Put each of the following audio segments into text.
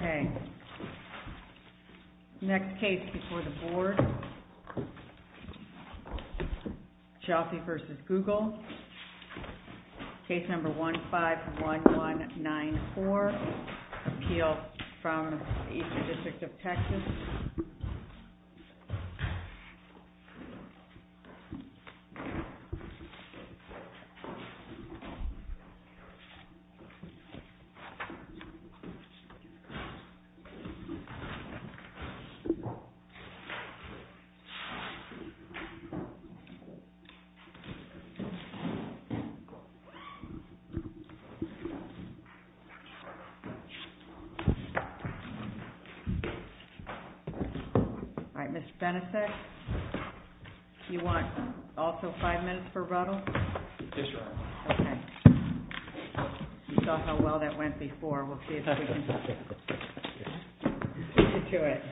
Okay, next case before the board, Cioffi v. Google, case number 151194, appeal from the Eastern District of Texas. All right, Mr. Benesek, you want also five minutes for Ruttle? Yes, ma'am. Okay. You saw how well that went before. We'll see if we can get to it.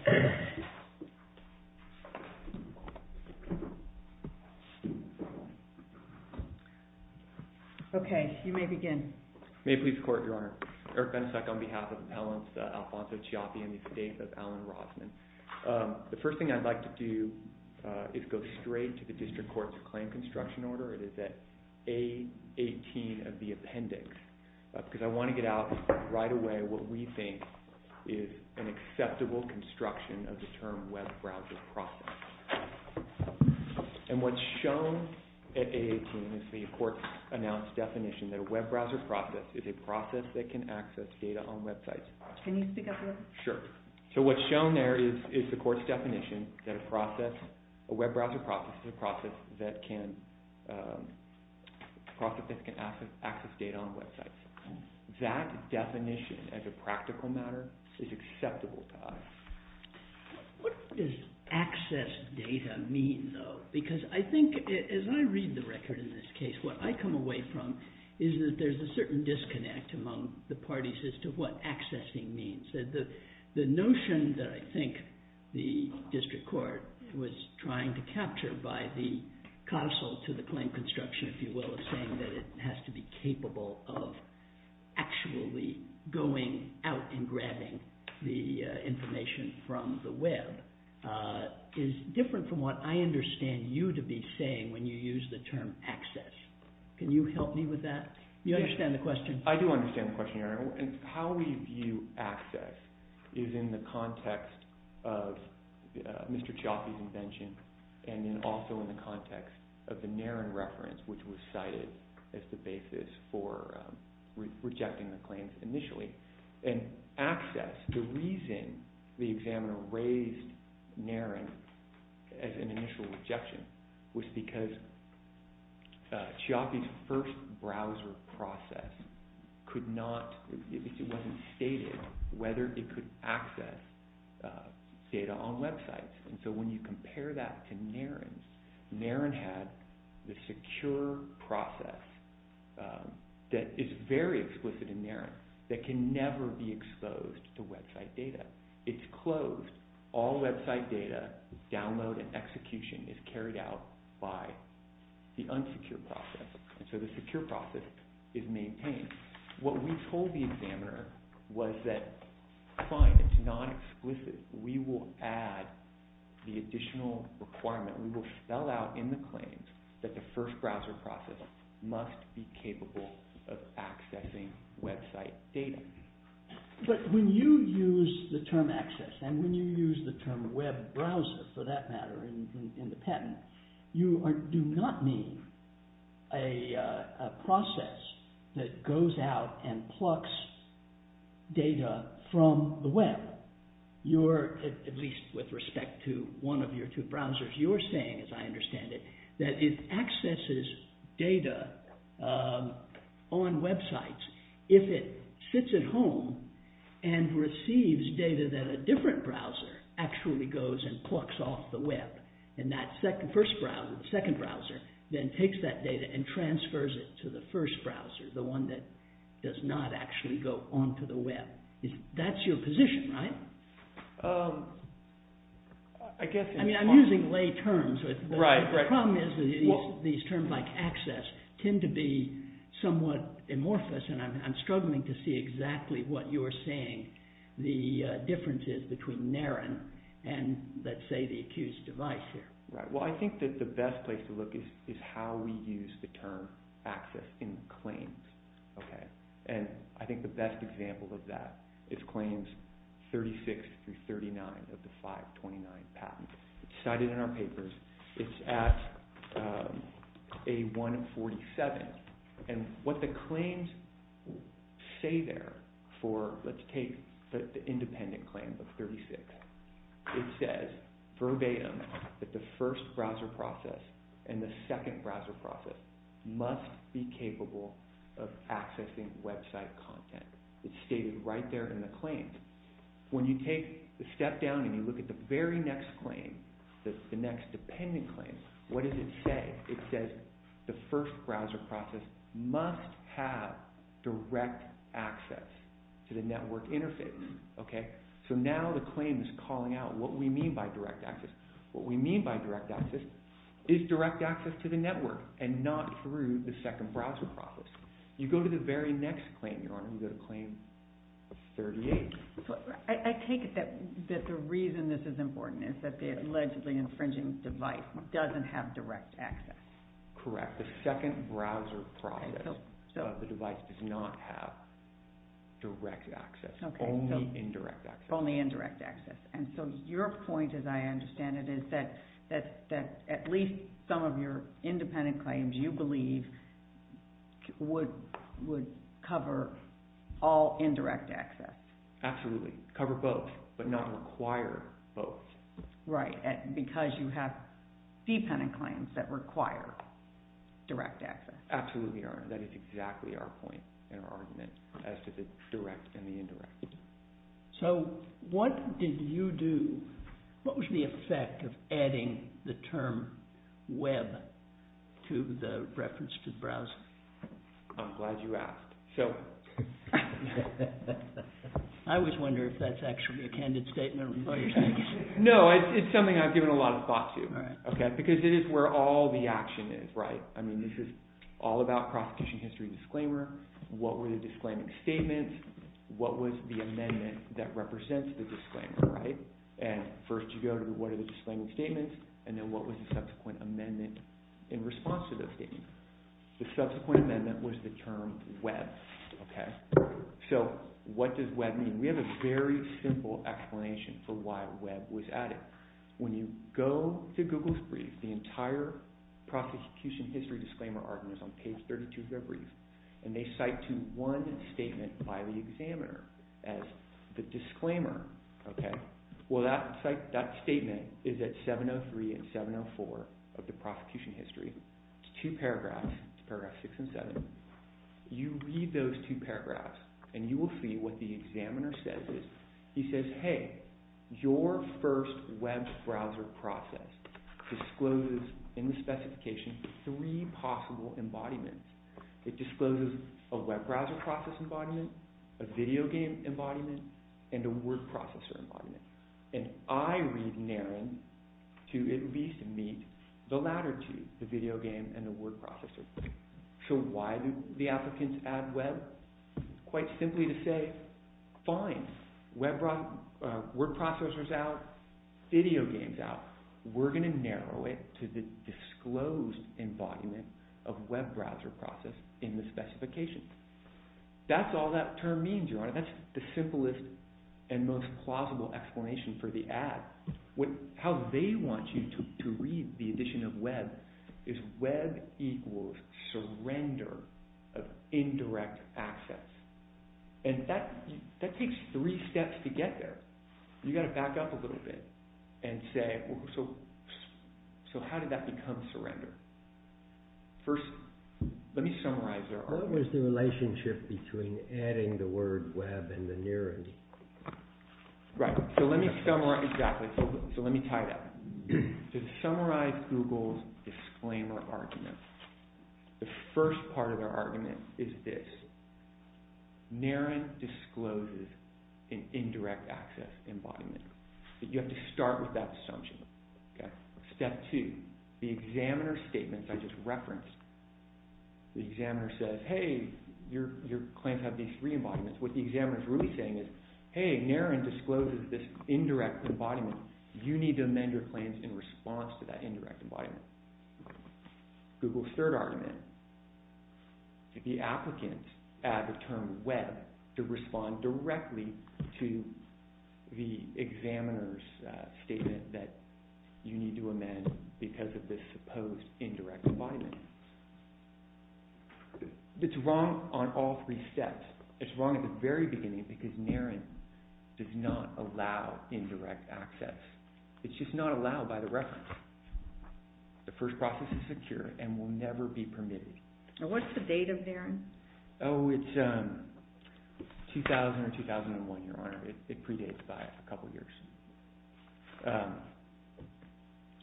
Okay, you may begin. May it please the Court, Your Honor. Eric Benesek on behalf of Appellants Alfonso Cioffi and the estate of Alan Rossman. The first thing I'd like to do is go straight to the District Court's claim construction order. It is at A18 of the appendix, because I want to get out right away what we think is an acceptable construction of the term web browser process. And what's shown at A18 is the Court's announced definition that a web browser process is a process that can access data on websites. Can you speak up a little? Sure. So what's shown there is the Court's definition that a process, a web browser process is a process that can access data on websites. That definition, as a practical matter, is acceptable to us. What does access data mean, though? Because I think, as I read the record in this case, what I come away from is that there's a certain disconnect among the parties as to what accessing means. The notion that I think the District Court was trying to capture by the counsel to the claim construction, if you will, is saying that it has to be capable of actually going out and grabbing the information from the web, is different from what I understand you to be saying when you use the term access. Can you help me with that? You understand the question? I do understand the question, Your Honor. And how we view access is in the context of Mr. Chiaffi's invention, and then also in the context of the NARIN reference, which was cited as the basis for rejecting the claims initially. And access, the reason the examiner raised NARIN as an initial rejection was because Chiaffi's first browser process could not, it wasn't stated whether it could access data on websites. And so when you compare that to NARIN, NARIN had the secure process that is very explicit in NARIN that can never be exposed to website data. It's closed. All website data, download and execution is carried out by the unsecure process. And so the secure process is maintained. What we told the examiner was that, fine, it's not explicit. We will add the additional requirement. We will spell out in the claims that the first browser process must be capable of accessing website data. But when you use the term access, and when you use the term web browser for that matter in the patent, you do not mean a process that goes out and plucks data from the web. You're, at least with respect to one of your two browsers, you're saying, as I understand it, that it accesses data on websites if it sits at home and receives data that a different browser actually goes and plucks off the web. And that first browser, the second browser, then takes that data and transfers it to the first browser, the one that does not actually go onto the web. That's your position, right? I'm using lay terms. The problem is that these terms like access tend to be somewhat amorphous, and I'm struggling to see exactly what you're saying the difference is between NARIN and, let's say, the accused device here. Well, I think that the best place to look is how we use the term access in claims. And I think the best example of that is claims 36 through 39 of the 529 patents. It's cited in our papers. It's at A147, and what the claims say there for, let's take the independent claim of 36. It says verbatim that the first browser process and the second browser process must be capable of accessing website content. It's stated right there in the claims. When you take a step down and you look at the very next claim, the next dependent claim, what does it say? It says the first browser process must have direct access to the network interface. So now the claim is calling out what we mean by direct access. What we mean by direct access is direct access to the network and not through the second browser process. You go to the very next claim, Your Honor, you go to claim 38. I take it that the reason this is important is that the allegedly infringing device doesn't have direct access. Correct. The second browser process, the device does not have direct access, only indirect access. Only indirect access. And so your point, as I understand it, is that at least some of your independent claims you believe would cover all indirect access. Absolutely. Cover both, but not require both. Right. Because you have dependent claims that require direct access. Absolutely, Your Honor. That is exactly our point and our argument as to the direct and the indirect. So what did you do, what was the effect of adding the term web to the reference to the browser? I'm glad you asked. I always wonder if that's actually a candid statement. No, it's something I've given a lot of thought to. Because it is where all the action is, right? I mean, this is all about prosecution history disclaimer, what were the disclaiming statements, what was the amendment that represents the disclaimer, right? And first you go to what are the disclaiming statements, and then what was the subsequent amendment in response to those statements? The subsequent amendment was the term web, okay? So what does web mean? We have a very simple explanation for why web was added. When you go to Google's brief, the entire prosecution history disclaimer argument is on page 32 of their brief, and they cite to one statement by the examiner as the disclaimer, okay? Well, that statement is at 703 and 704 of the prosecution history. It's two paragraphs, it's paragraphs 6 and 7. You read those two paragraphs, and you will see what the examiner says is, he says, hey, your first web browser process discloses in the specification three possible embodiments. It discloses a web browser process embodiment, a video game embodiment, and a word processor embodiment. And I read Naren to at least meet the latter two, the video game and the word processor. So why do the applicants add web? Quite simply to say, fine, word processor's out, video game's out. We're going to narrow it to the disclosed embodiment of web browser process in the specification. That's all that term means, Your Honor. That's the simplest and most plausible explanation for the ad. How they want you to read the addition of web is web equals surrender of indirect access. And that takes three steps to get there. You've got to back up a little bit and say, so how did that become surrender? First, let me summarize there. What was the relationship between adding the word web and the Naren? Right. So let me summarize. Exactly. So let me tie that. To summarize Google's disclaimer argument, the first part of their argument is this. Naren discloses an indirect access embodiment. But you have to start with that assumption. Step two, the examiner's statements I just referenced. The examiner says, hey, your claims have these three embodiments. What the examiner is really saying is, hey, Naren discloses this indirect embodiment. You need to amend your claims in response to that indirect embodiment. Google's third argument, the applicant added the term web to respond directly to the examiner's statement that you need to amend because of this supposed indirect embodiment. It's wrong on all three steps. It's wrong at the very beginning because Naren does not allow indirect access. It's just not allowed by the reference. The first process is secure and will never be permitted. What's the date of Naren? Oh, it's 2000 or 2001, Your Honor. It predates by a couple years.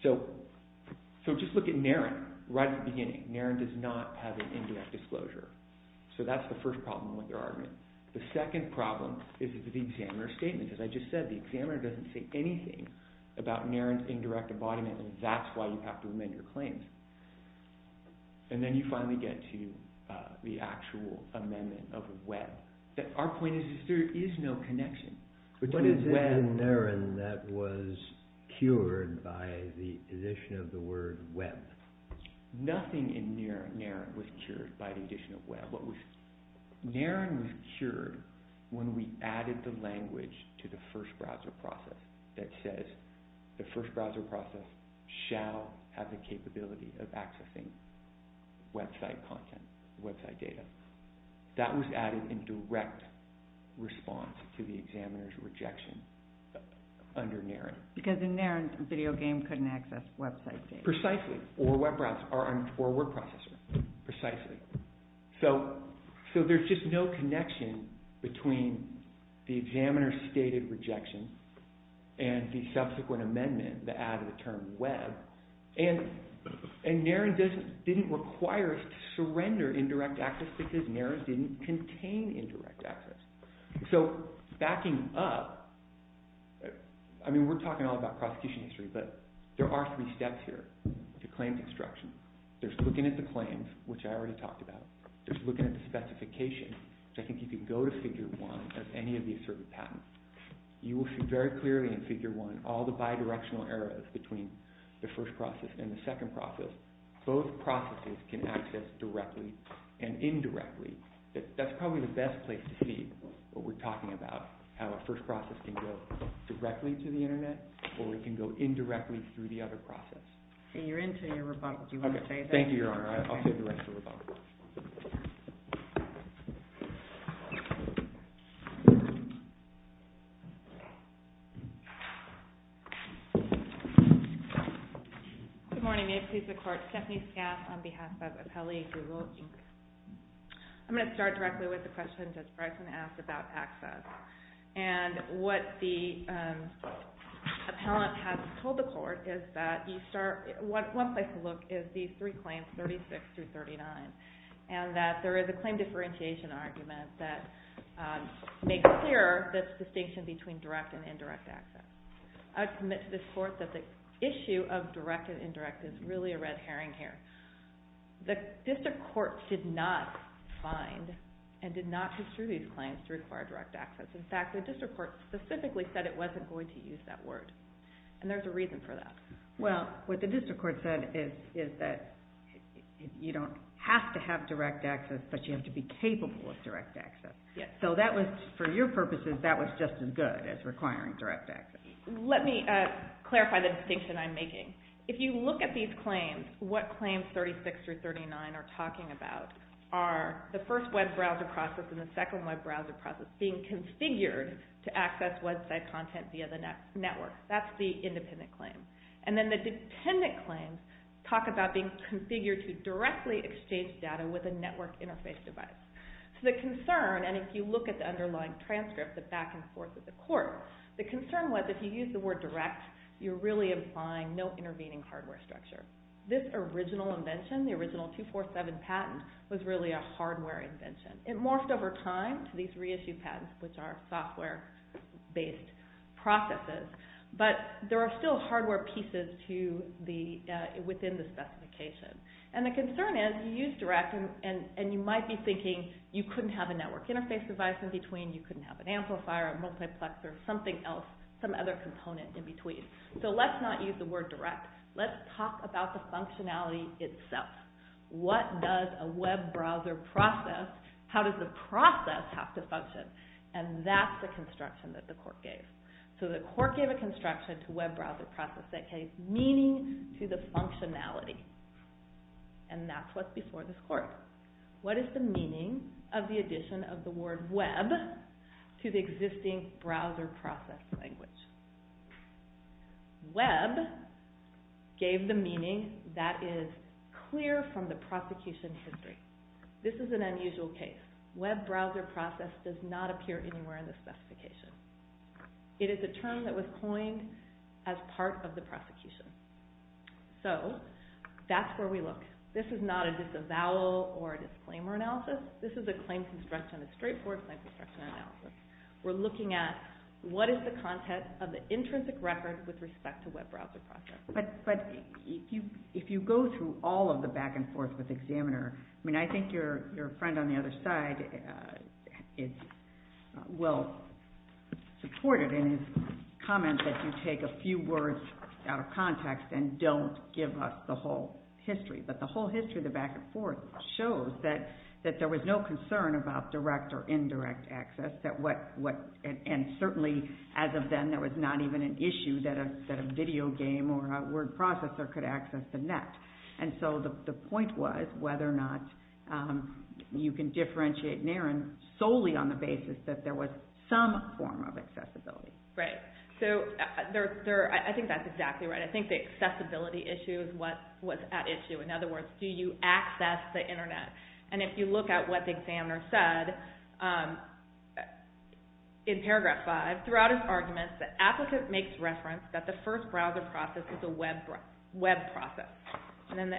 So just look at Naren right at the beginning. Naren does not have an indirect disclosure. So that's the first problem with their argument. The second problem is the examiner's statement. As I just said, the examiner doesn't say anything about Naren's indirect embodiment, and that's why you have to amend your claims. And then you finally get to the actual amendment of web. Our point is there is no connection. What is it in Naren that was cured by the addition of the word web? Nothing in Naren was cured by the addition of web. Naren was cured when we added the language to the first browser process that says the first browser process shall have the capability of accessing website content, website data. That was added in direct response to the examiner's rejection under Naren. Because in Naren, Video Game couldn't access website data. Precisely, or web browser or word processor, precisely. So there's just no connection between the examiner's stated rejection and the subsequent amendment that added the term web. And Naren didn't require us to surrender indirect access because Naren didn't contain indirect access. So backing up, I mean we're talking all about prosecution history, but there are three steps here to claims instruction. There's looking at the claims, which I already talked about. There's looking at the specification, which I think you can go to figure one as any of these certain patents. You will see very clearly in figure one all the bidirectional errors between the first process and the second process. Both processes can access directly and indirectly. That's probably the best place to see what we're talking about, how a first process can go directly to the Internet or it can go indirectly through the other process. You're into your rebuttal. Do you want to say that? Thank you, Your Honor. I'll say the rest of the rebuttal. Good morning. May it please the Court. Stephanie Scaff on behalf of Apelli Google Inc. I'm going to start directly with the question Judge Bryson asked about access. And what the appellant has told the Court is that one place to look is these three claims, 36 through 39, and that there is a claim differentiation argument that makes clear this distinction between direct and indirect access. I would submit to this Court that the issue of direct and indirect is really a red herring here. The District Court did not find and did not distribute these claims to require direct access. In fact, the District Court specifically said it wasn't going to use that word. And there's a reason for that. Well, what the District Court said is that you don't have to have direct access, but you have to be capable of direct access. So that was, for your purposes, that was just as good as requiring direct access. Let me clarify the distinction I'm making. If you look at these claims, what claims 36 through 39 are talking about are the first web browser process and the second web browser process being configured to access website content via the network. That's the independent claim. And then the dependent claims talk about being configured to directly exchange data with a network interface device. So the concern, and if you look at the underlying transcript, the back and forth of the Court, the concern was if you use the word direct, you're really implying no intervening hardware structure. This original invention, the original 247 patent, was really a hardware invention. It morphed over time to these reissued patents, which are software-based processes. But there are still hardware pieces within the specification. And the concern is you use direct, and you might be thinking you couldn't have a network interface device in between, you couldn't have an amplifier, a multiplexer, something else, some other component in between. So let's not use the word direct. Let's talk about the functionality itself. What does a web browser process, how does the process have to function? And that's the construction that the Court gave. So the Court gave a construction to web browser process that gave meaning to the functionality. And that's what's before this Court. What is the meaning of the addition of the word web to the existing browser process language? Web gave the meaning that is clear from the prosecution history. This is an unusual case. Web browser process does not appear anywhere in the specification. It is a term that was coined as part of the prosecution. So that's where we look. This is not a disavowal or disclaimer analysis. This is a claim construction. It's straightforward claim construction analysis. We're looking at what is the content of the intrinsic record with respect to web browser process. But if you go through all of the back and forth with the examiner, I mean, I think your friend on the other side is well supported in his comment that you take a few words out of context and don't give us the whole history. But the whole history of the back and forth shows that there was no concern about direct or indirect access. And certainly, as of then, there was not even an issue that a video game or a word processor could access the net. And so the point was whether or not you can differentiate NARIN solely on the basis that there was some form of accessibility. Right. So I think that's exactly right. I think the accessibility issue is what's at issue. In other words, do you access the internet? And if you look at what the examiner said in paragraph 5, throughout his arguments, the applicant makes reference that the first browser process is a web process. And then the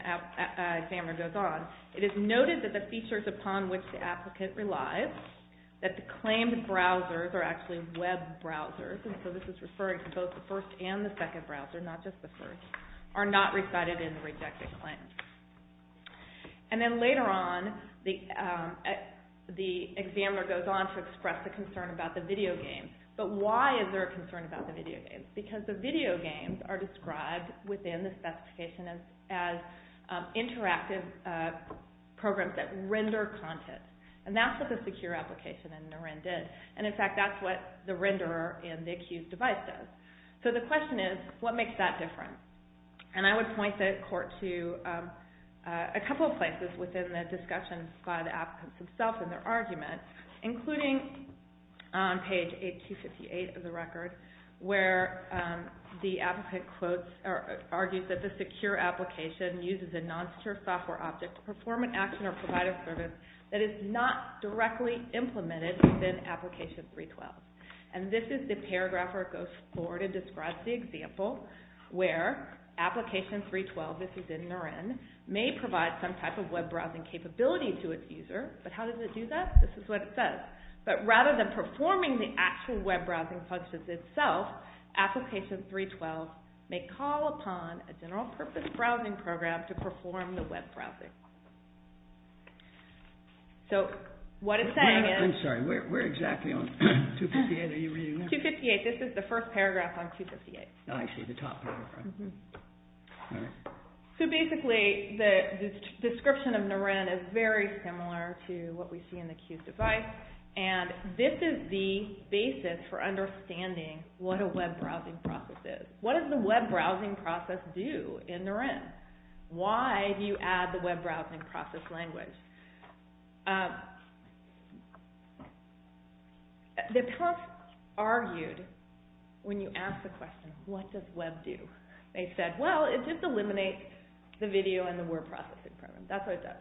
examiner goes on. It is noted that the features upon which the applicant relies, that the claimed browsers are actually web browsers, and so this is referring to both the first and the second browser, not just the first, are not resided in the rejected claim. And then later on, the examiner goes on to express a concern about the video games. But why is there a concern about the video games? Because the video games are described within the specification as interactive programs that render content. And that's what the secure application in NARIN did. And in fact, that's what the renderer in the accused device does. So the question is, what makes that different? And I would point the court to a couple of places within the discussion by the applicants themselves and their arguments, including on page 858 of the record, where the applicant argues that the secure application uses a non-secure software object to perform an action or provide a service that is not directly implemented within application 312. And this is the paragraph where it goes forward and describes the example where application 312, this is in NARIN, may provide some type of web browsing capability to its user, but how does it do that? This is what it says. But rather than performing the actual web browsing functions itself, application 312 may call upon a general purpose browsing program to perform the web browsing. So what it's saying is... I'm sorry, where exactly on 258 are you reading that? 258, this is the first paragraph on 258. Oh, I see, the top paragraph. So basically, the description of NARIN is very similar to what we see in the accused device. And this is the basis for understanding what a web browsing process is. What does the web browsing process do in NARIN? Why do you add the web browsing process language? The press argued when you asked the question, what does web do? They said, well, it just eliminates the video and the word processing program. That's what it does.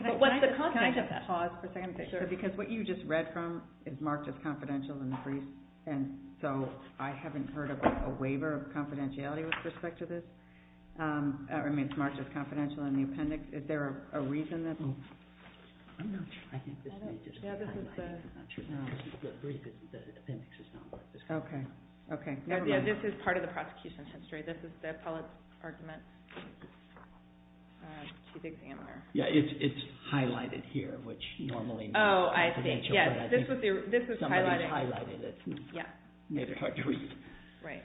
But what's the content of that? Can I just pause for a second? Because what you just read from is marked as confidential in the brief, and so I haven't heard of a waiver of confidentiality with respect to this. I mean, it's marked as confidential in the appendix. Is there a reason that... I'm not sure. I think this may just be highlighted. Yeah, this is the... The appendix is not marked as confidential. Okay, okay. This is part of the prosecution's history. This is the appellate's argument to the examiner. Yeah, it's highlighted here, which normally means confidential. Oh, I see, yes. This is highlighted. Somebody's highlighted it. Yeah. Neither hard to read. Right.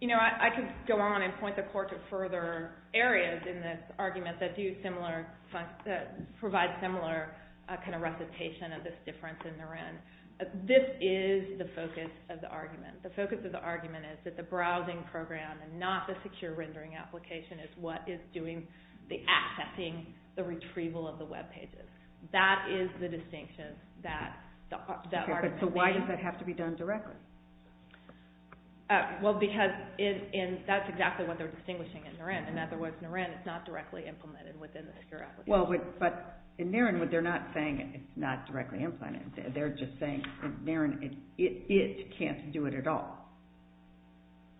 You know, I could go on and point the court to further areas in this argument that do similar... that provide similar kind of recitation of this difference in the RIN. This is the focus of the argument. The focus of the argument is that the browsing program and not the secure rendering application is what is doing the accessing the retrieval of the web pages. That is the distinction that the argument... Okay, but so why does that have to be done directly? Well, because that's exactly what they're distinguishing in NIRIN. In other words, NIRIN, it's not directly implemented within the secure application. Well, but in NIRIN, they're not saying it's not directly implemented. They're just saying in NIRIN, it can't do it at all.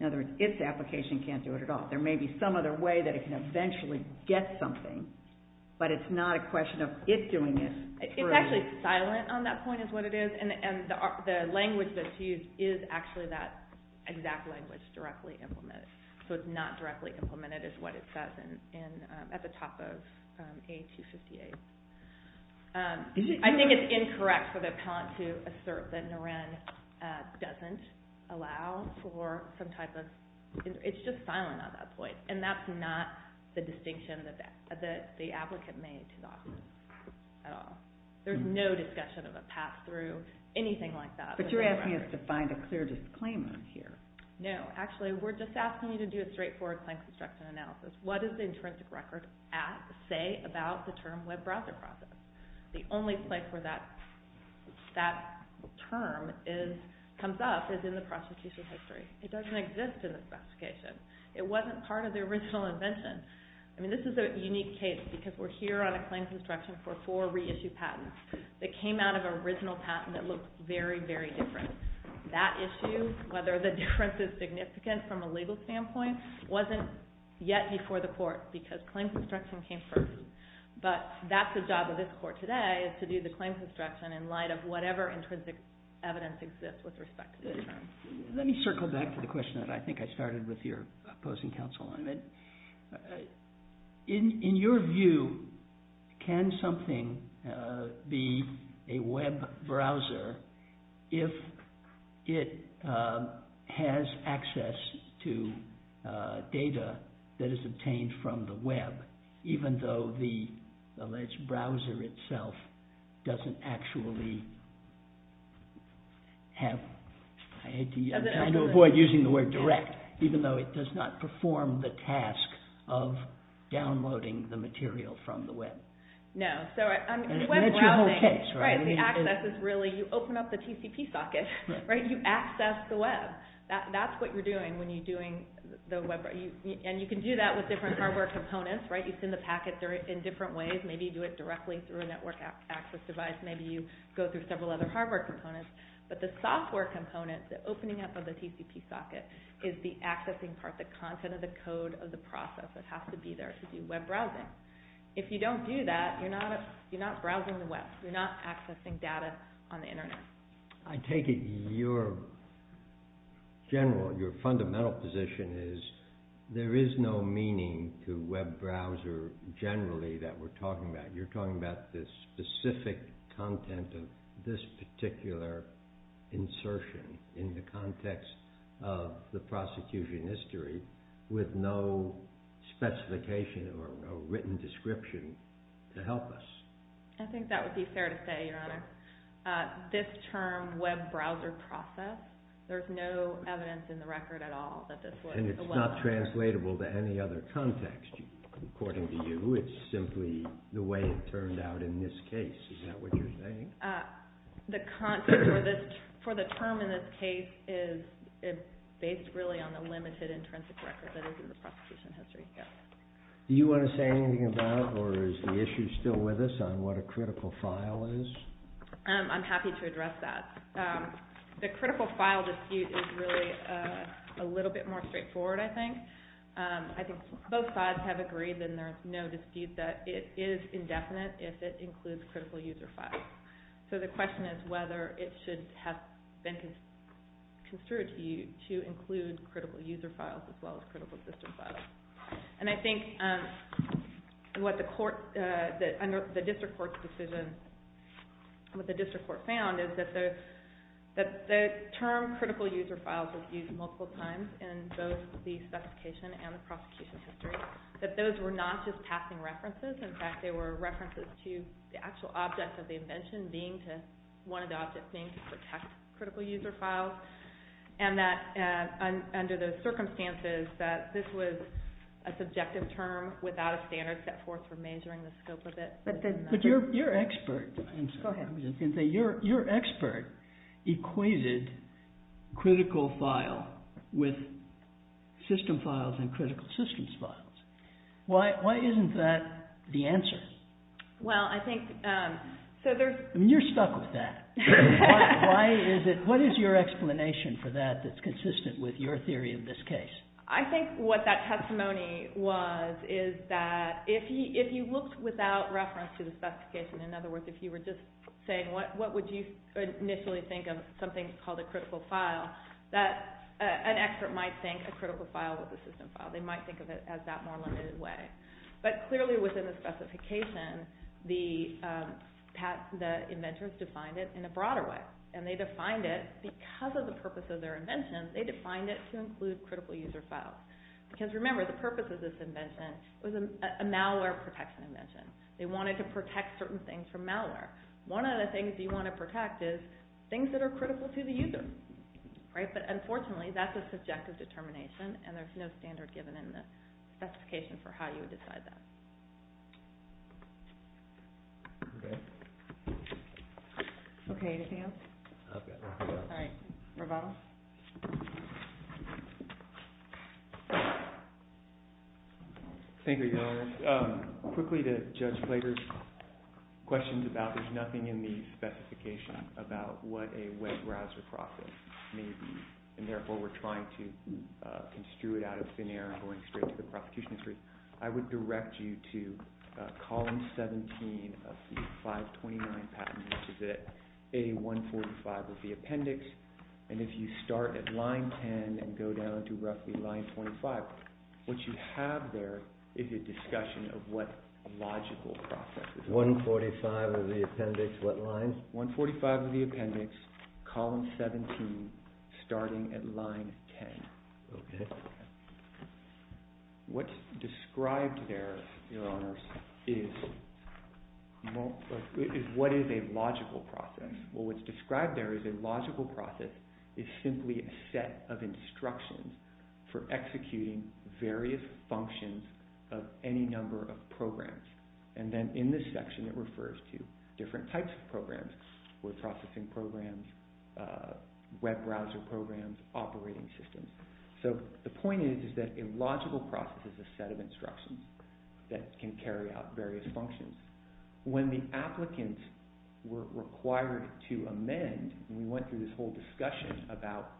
In other words, its application can't do it at all. There may be some other way that it can eventually get something, but it's not a question of it doing it. It's actually silent on that point is what it is, and the language that's used is actually that exact language directly implemented. So it's not directly implemented is what it says at the top of A258. I think it's incorrect for the appellant to assert that NIRIN doesn't allow for some type of... It's just silent on that point, and that's not the distinction that the applicant made to the office at all. There's no discussion of a pass-through, anything like that. But you're asking us to find a clear disclaimer here. No. Actually, we're just asking you to do a straightforward claim construction analysis. What does the intrinsic record say about the term web browser processing? The only place where that term comes up is in the prosecution's history. It doesn't exist in the specification. It wasn't part of the original invention. I mean, this is a unique case because we're here on a claim construction for four reissued patents that came out of an original patent that looked very, very different. That issue, whether the difference is significant from a legal standpoint, wasn't yet before the court because claim construction came first. But that's the job of this court today is to do the claim construction in light of whatever intrinsic evidence exists with respect to the term. Let me circle back to the question that I think I started with your opposing counsel on. In your view, can something be a web browser if it has access to data that is obtained from the web, even though the alleged browser itself doesn't actually have – I'm trying to avoid using the word direct – even though it does not perform the task of downloading the material from the web? No. That's your whole case, right? The access is really – you open up the TCP socket, right? You access the web. That's what you're doing when you're doing the web browser. And you can do that with different hardware components, right? You send the packets in different ways. Maybe you do it directly through a network access device. Maybe you go through several other hardware components. But the software component, the opening up of the TCP socket, is the accessing part, the content of the code of the process. It has to be there to do web browsing. If you don't do that, you're not browsing the web. You're not accessing data on the Internet. I take it your general, your fundamental position is there is no meaning to web browser generally that we're talking about. You're talking about the specific content of this particular insertion in the context of the prosecution history with no specification or written description to help us. This term, web browser process, there's no evidence in the record at all that this was a web browser. And it's not translatable to any other context, according to you. It's simply the way it turned out in this case. Is that what you're saying? The content for the term in this case is based really on the limited, intrinsic record that is in the prosecution history. Do you want to say anything about, or is the issue still with us, on what a critical file is? I'm happy to address that. The critical file dispute is really a little bit more straightforward, I think. I think both sides have agreed, and there's no dispute, that it is indefinite if it includes critical user files. So the question is whether it should have been construed to you to include critical user files as well as critical system files. And I think what the district court found is that the term critical user files was used multiple times in both the specification and the prosecution history, that those were not just passing references. In fact, they were references to the actual object of the invention, one of the objects being to protect critical user files, and that under those circumstances that this was a subjective term without a standard set forth for measuring the scope of it. But your expert equated critical file with system files and critical systems files. Why isn't that the answer? Well, I think... You're stuck with that. What is your explanation for that that's consistent with your theory of this case? I think what that testimony was is that if you looked without reference to the specification, in other words, if you were just saying what would you initially think of something called a critical file, an expert might think a critical file was a system file. They might think of it as that more limited way. But clearly within the specification, the inventors defined it in a broader way. And they defined it because of the purpose of their invention, they defined it to include critical user files. Because remember, the purpose of this invention was a malware protection invention. They wanted to protect certain things from malware. One of the things you want to protect is things that are critical to the user. But unfortunately, that's a subjective determination and there's no standard given in the specification for how you would decide that. Okay. Okay, anything else? I've got nothing else. All right. Rebuttal? Thank you, Your Honor. Quickly to Judge Klager's questions about there's nothing in the specification about what a web browser process may be. And therefore, we're trying to construe it out of thin air and going straight to the prosecution history. I would direct you to column 17 of the 529 patent, which is at A145 of the appendix. And if you start at line 10 and go down to roughly line 25, what you have there is a discussion of what a logical process is. 145 of the appendix, what line? 145 of the appendix, column 17, starting at line 10. Okay. What's described there, Your Honors, is what is a logical process. Well, what's described there as a logical process is simply a set of instructions for executing various functions of any number of programs. And then in this section, it refers to different types of programs with processing programs, web browser programs, operating systems. So the point is that a logical process is a set of instructions that can carry out various functions. When the applicants were required to amend, and we went through this whole discussion about,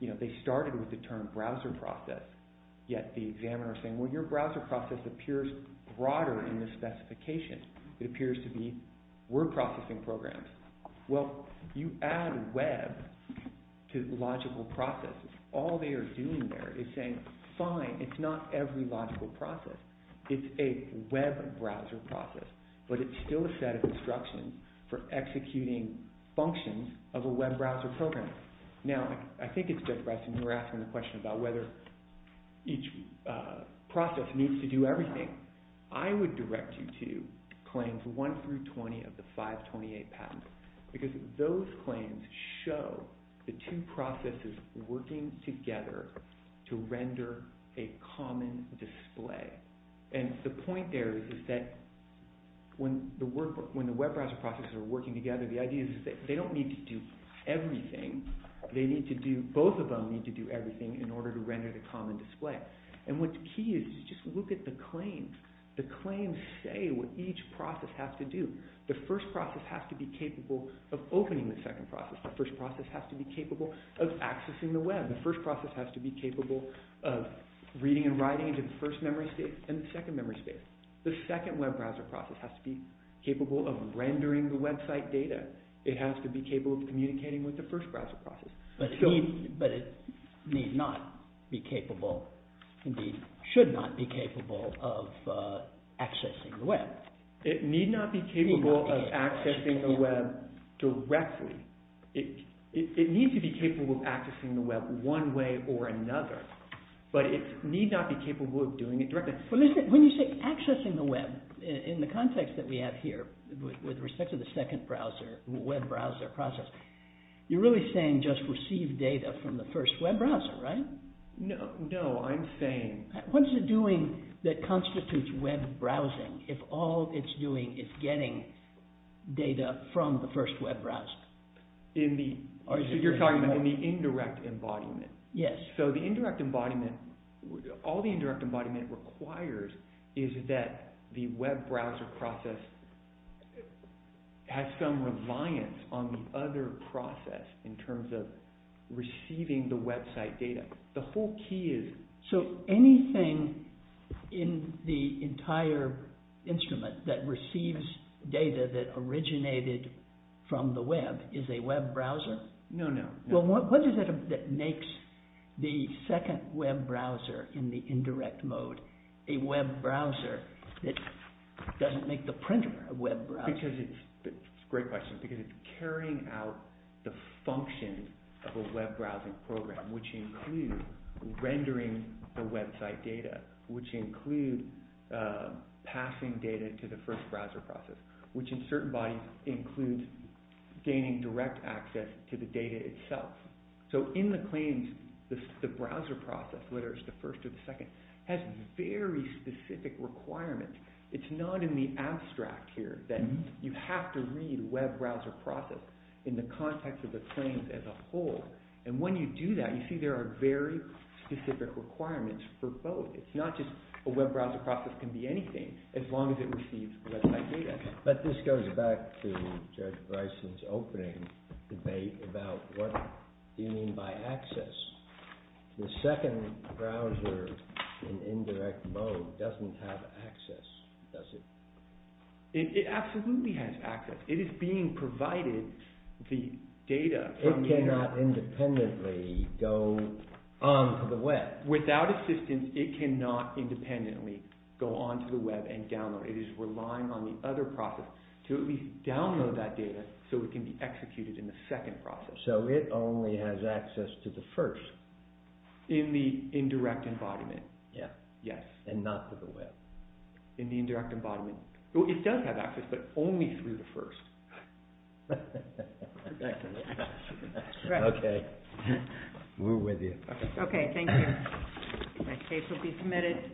you know, they started with the term browser process, yet the examiner was saying, well, your browser process appears broader in this specification. It appears to be word processing programs. Well, you add web to the logical process. All they are doing there is saying, fine, it's not every logical process. It's a web browser process, but it's still a set of instructions for executing functions of a web browser program. Now, I think it's just, Preston, you were asking the question about whether each process needs to do everything. I would direct you to claims 1 through 20 of the 528 patent, because those claims show the two processes working together to render a common display. And the point there is that when the web browser processes are working together, the idea is that they don't need to do everything. They need to do, both of them need to do everything in order to render the common display. And what's key is just look at the claims. The claims say what each process has to do. The first process has to be capable of opening the second process. The first process has to be capable of accessing the web. The first process has to be capable of reading and writing into the first memory space and the second memory space. The second web browser process has to be capable of rendering the website data. It has to be capable of communicating with the first browser process. But it needs not be capable, indeed should not be capable of accessing the web. It need not be capable of accessing the web directly. It needs to be capable of accessing the web one way or another. But it need not be capable of doing it directly. But listen, when you say accessing the web, in the context that we have here, with respect to the second browser, web browser process, you're really saying just receive data from the first web browser, right? No, no, I'm saying... What is it doing that constitutes web browsing if all it's doing is getting data from the first web browser? You're talking about the indirect embodiment. Yes. So the indirect embodiment, all the indirect embodiment requires is that the web browser process has some reliance on the other process in terms of receiving the website data. The whole key is... So anything in the entire instrument that receives data that originated from the web is a web browser? No, no. What is it that makes the second web browser in the indirect mode a web browser that doesn't make the printer a web browser? It's a great question because it's carrying out the function of a web browsing program, which includes rendering the website data, which includes passing data to the first browser process, which in certain bodies includes gaining direct access to the data itself. So in the claims, the browser process, whether it's the first or the second, has very specific requirements. It's not in the abstract here that you have to read web browser process in the context of the claims as a whole. And when you do that, you see there are very specific requirements for both. It's not just a web browser process can be anything as long as it receives website data. But this goes back to Judge Bryson's opening debate about what do you mean by access. The second browser in indirect mode doesn't have access, does it? It absolutely has access. It is being provided the data... It cannot independently go onto the web. Without assistance, it cannot independently go onto the web and download. It is relying on the other process to at least download that data so it can be executed in the second process. So it only has access to the first? In the indirect embodiment, yes. And not to the web? In the indirect embodiment. It does have access, but only through the first. Okay. We're with you. Okay, thank you. The case will be submitted.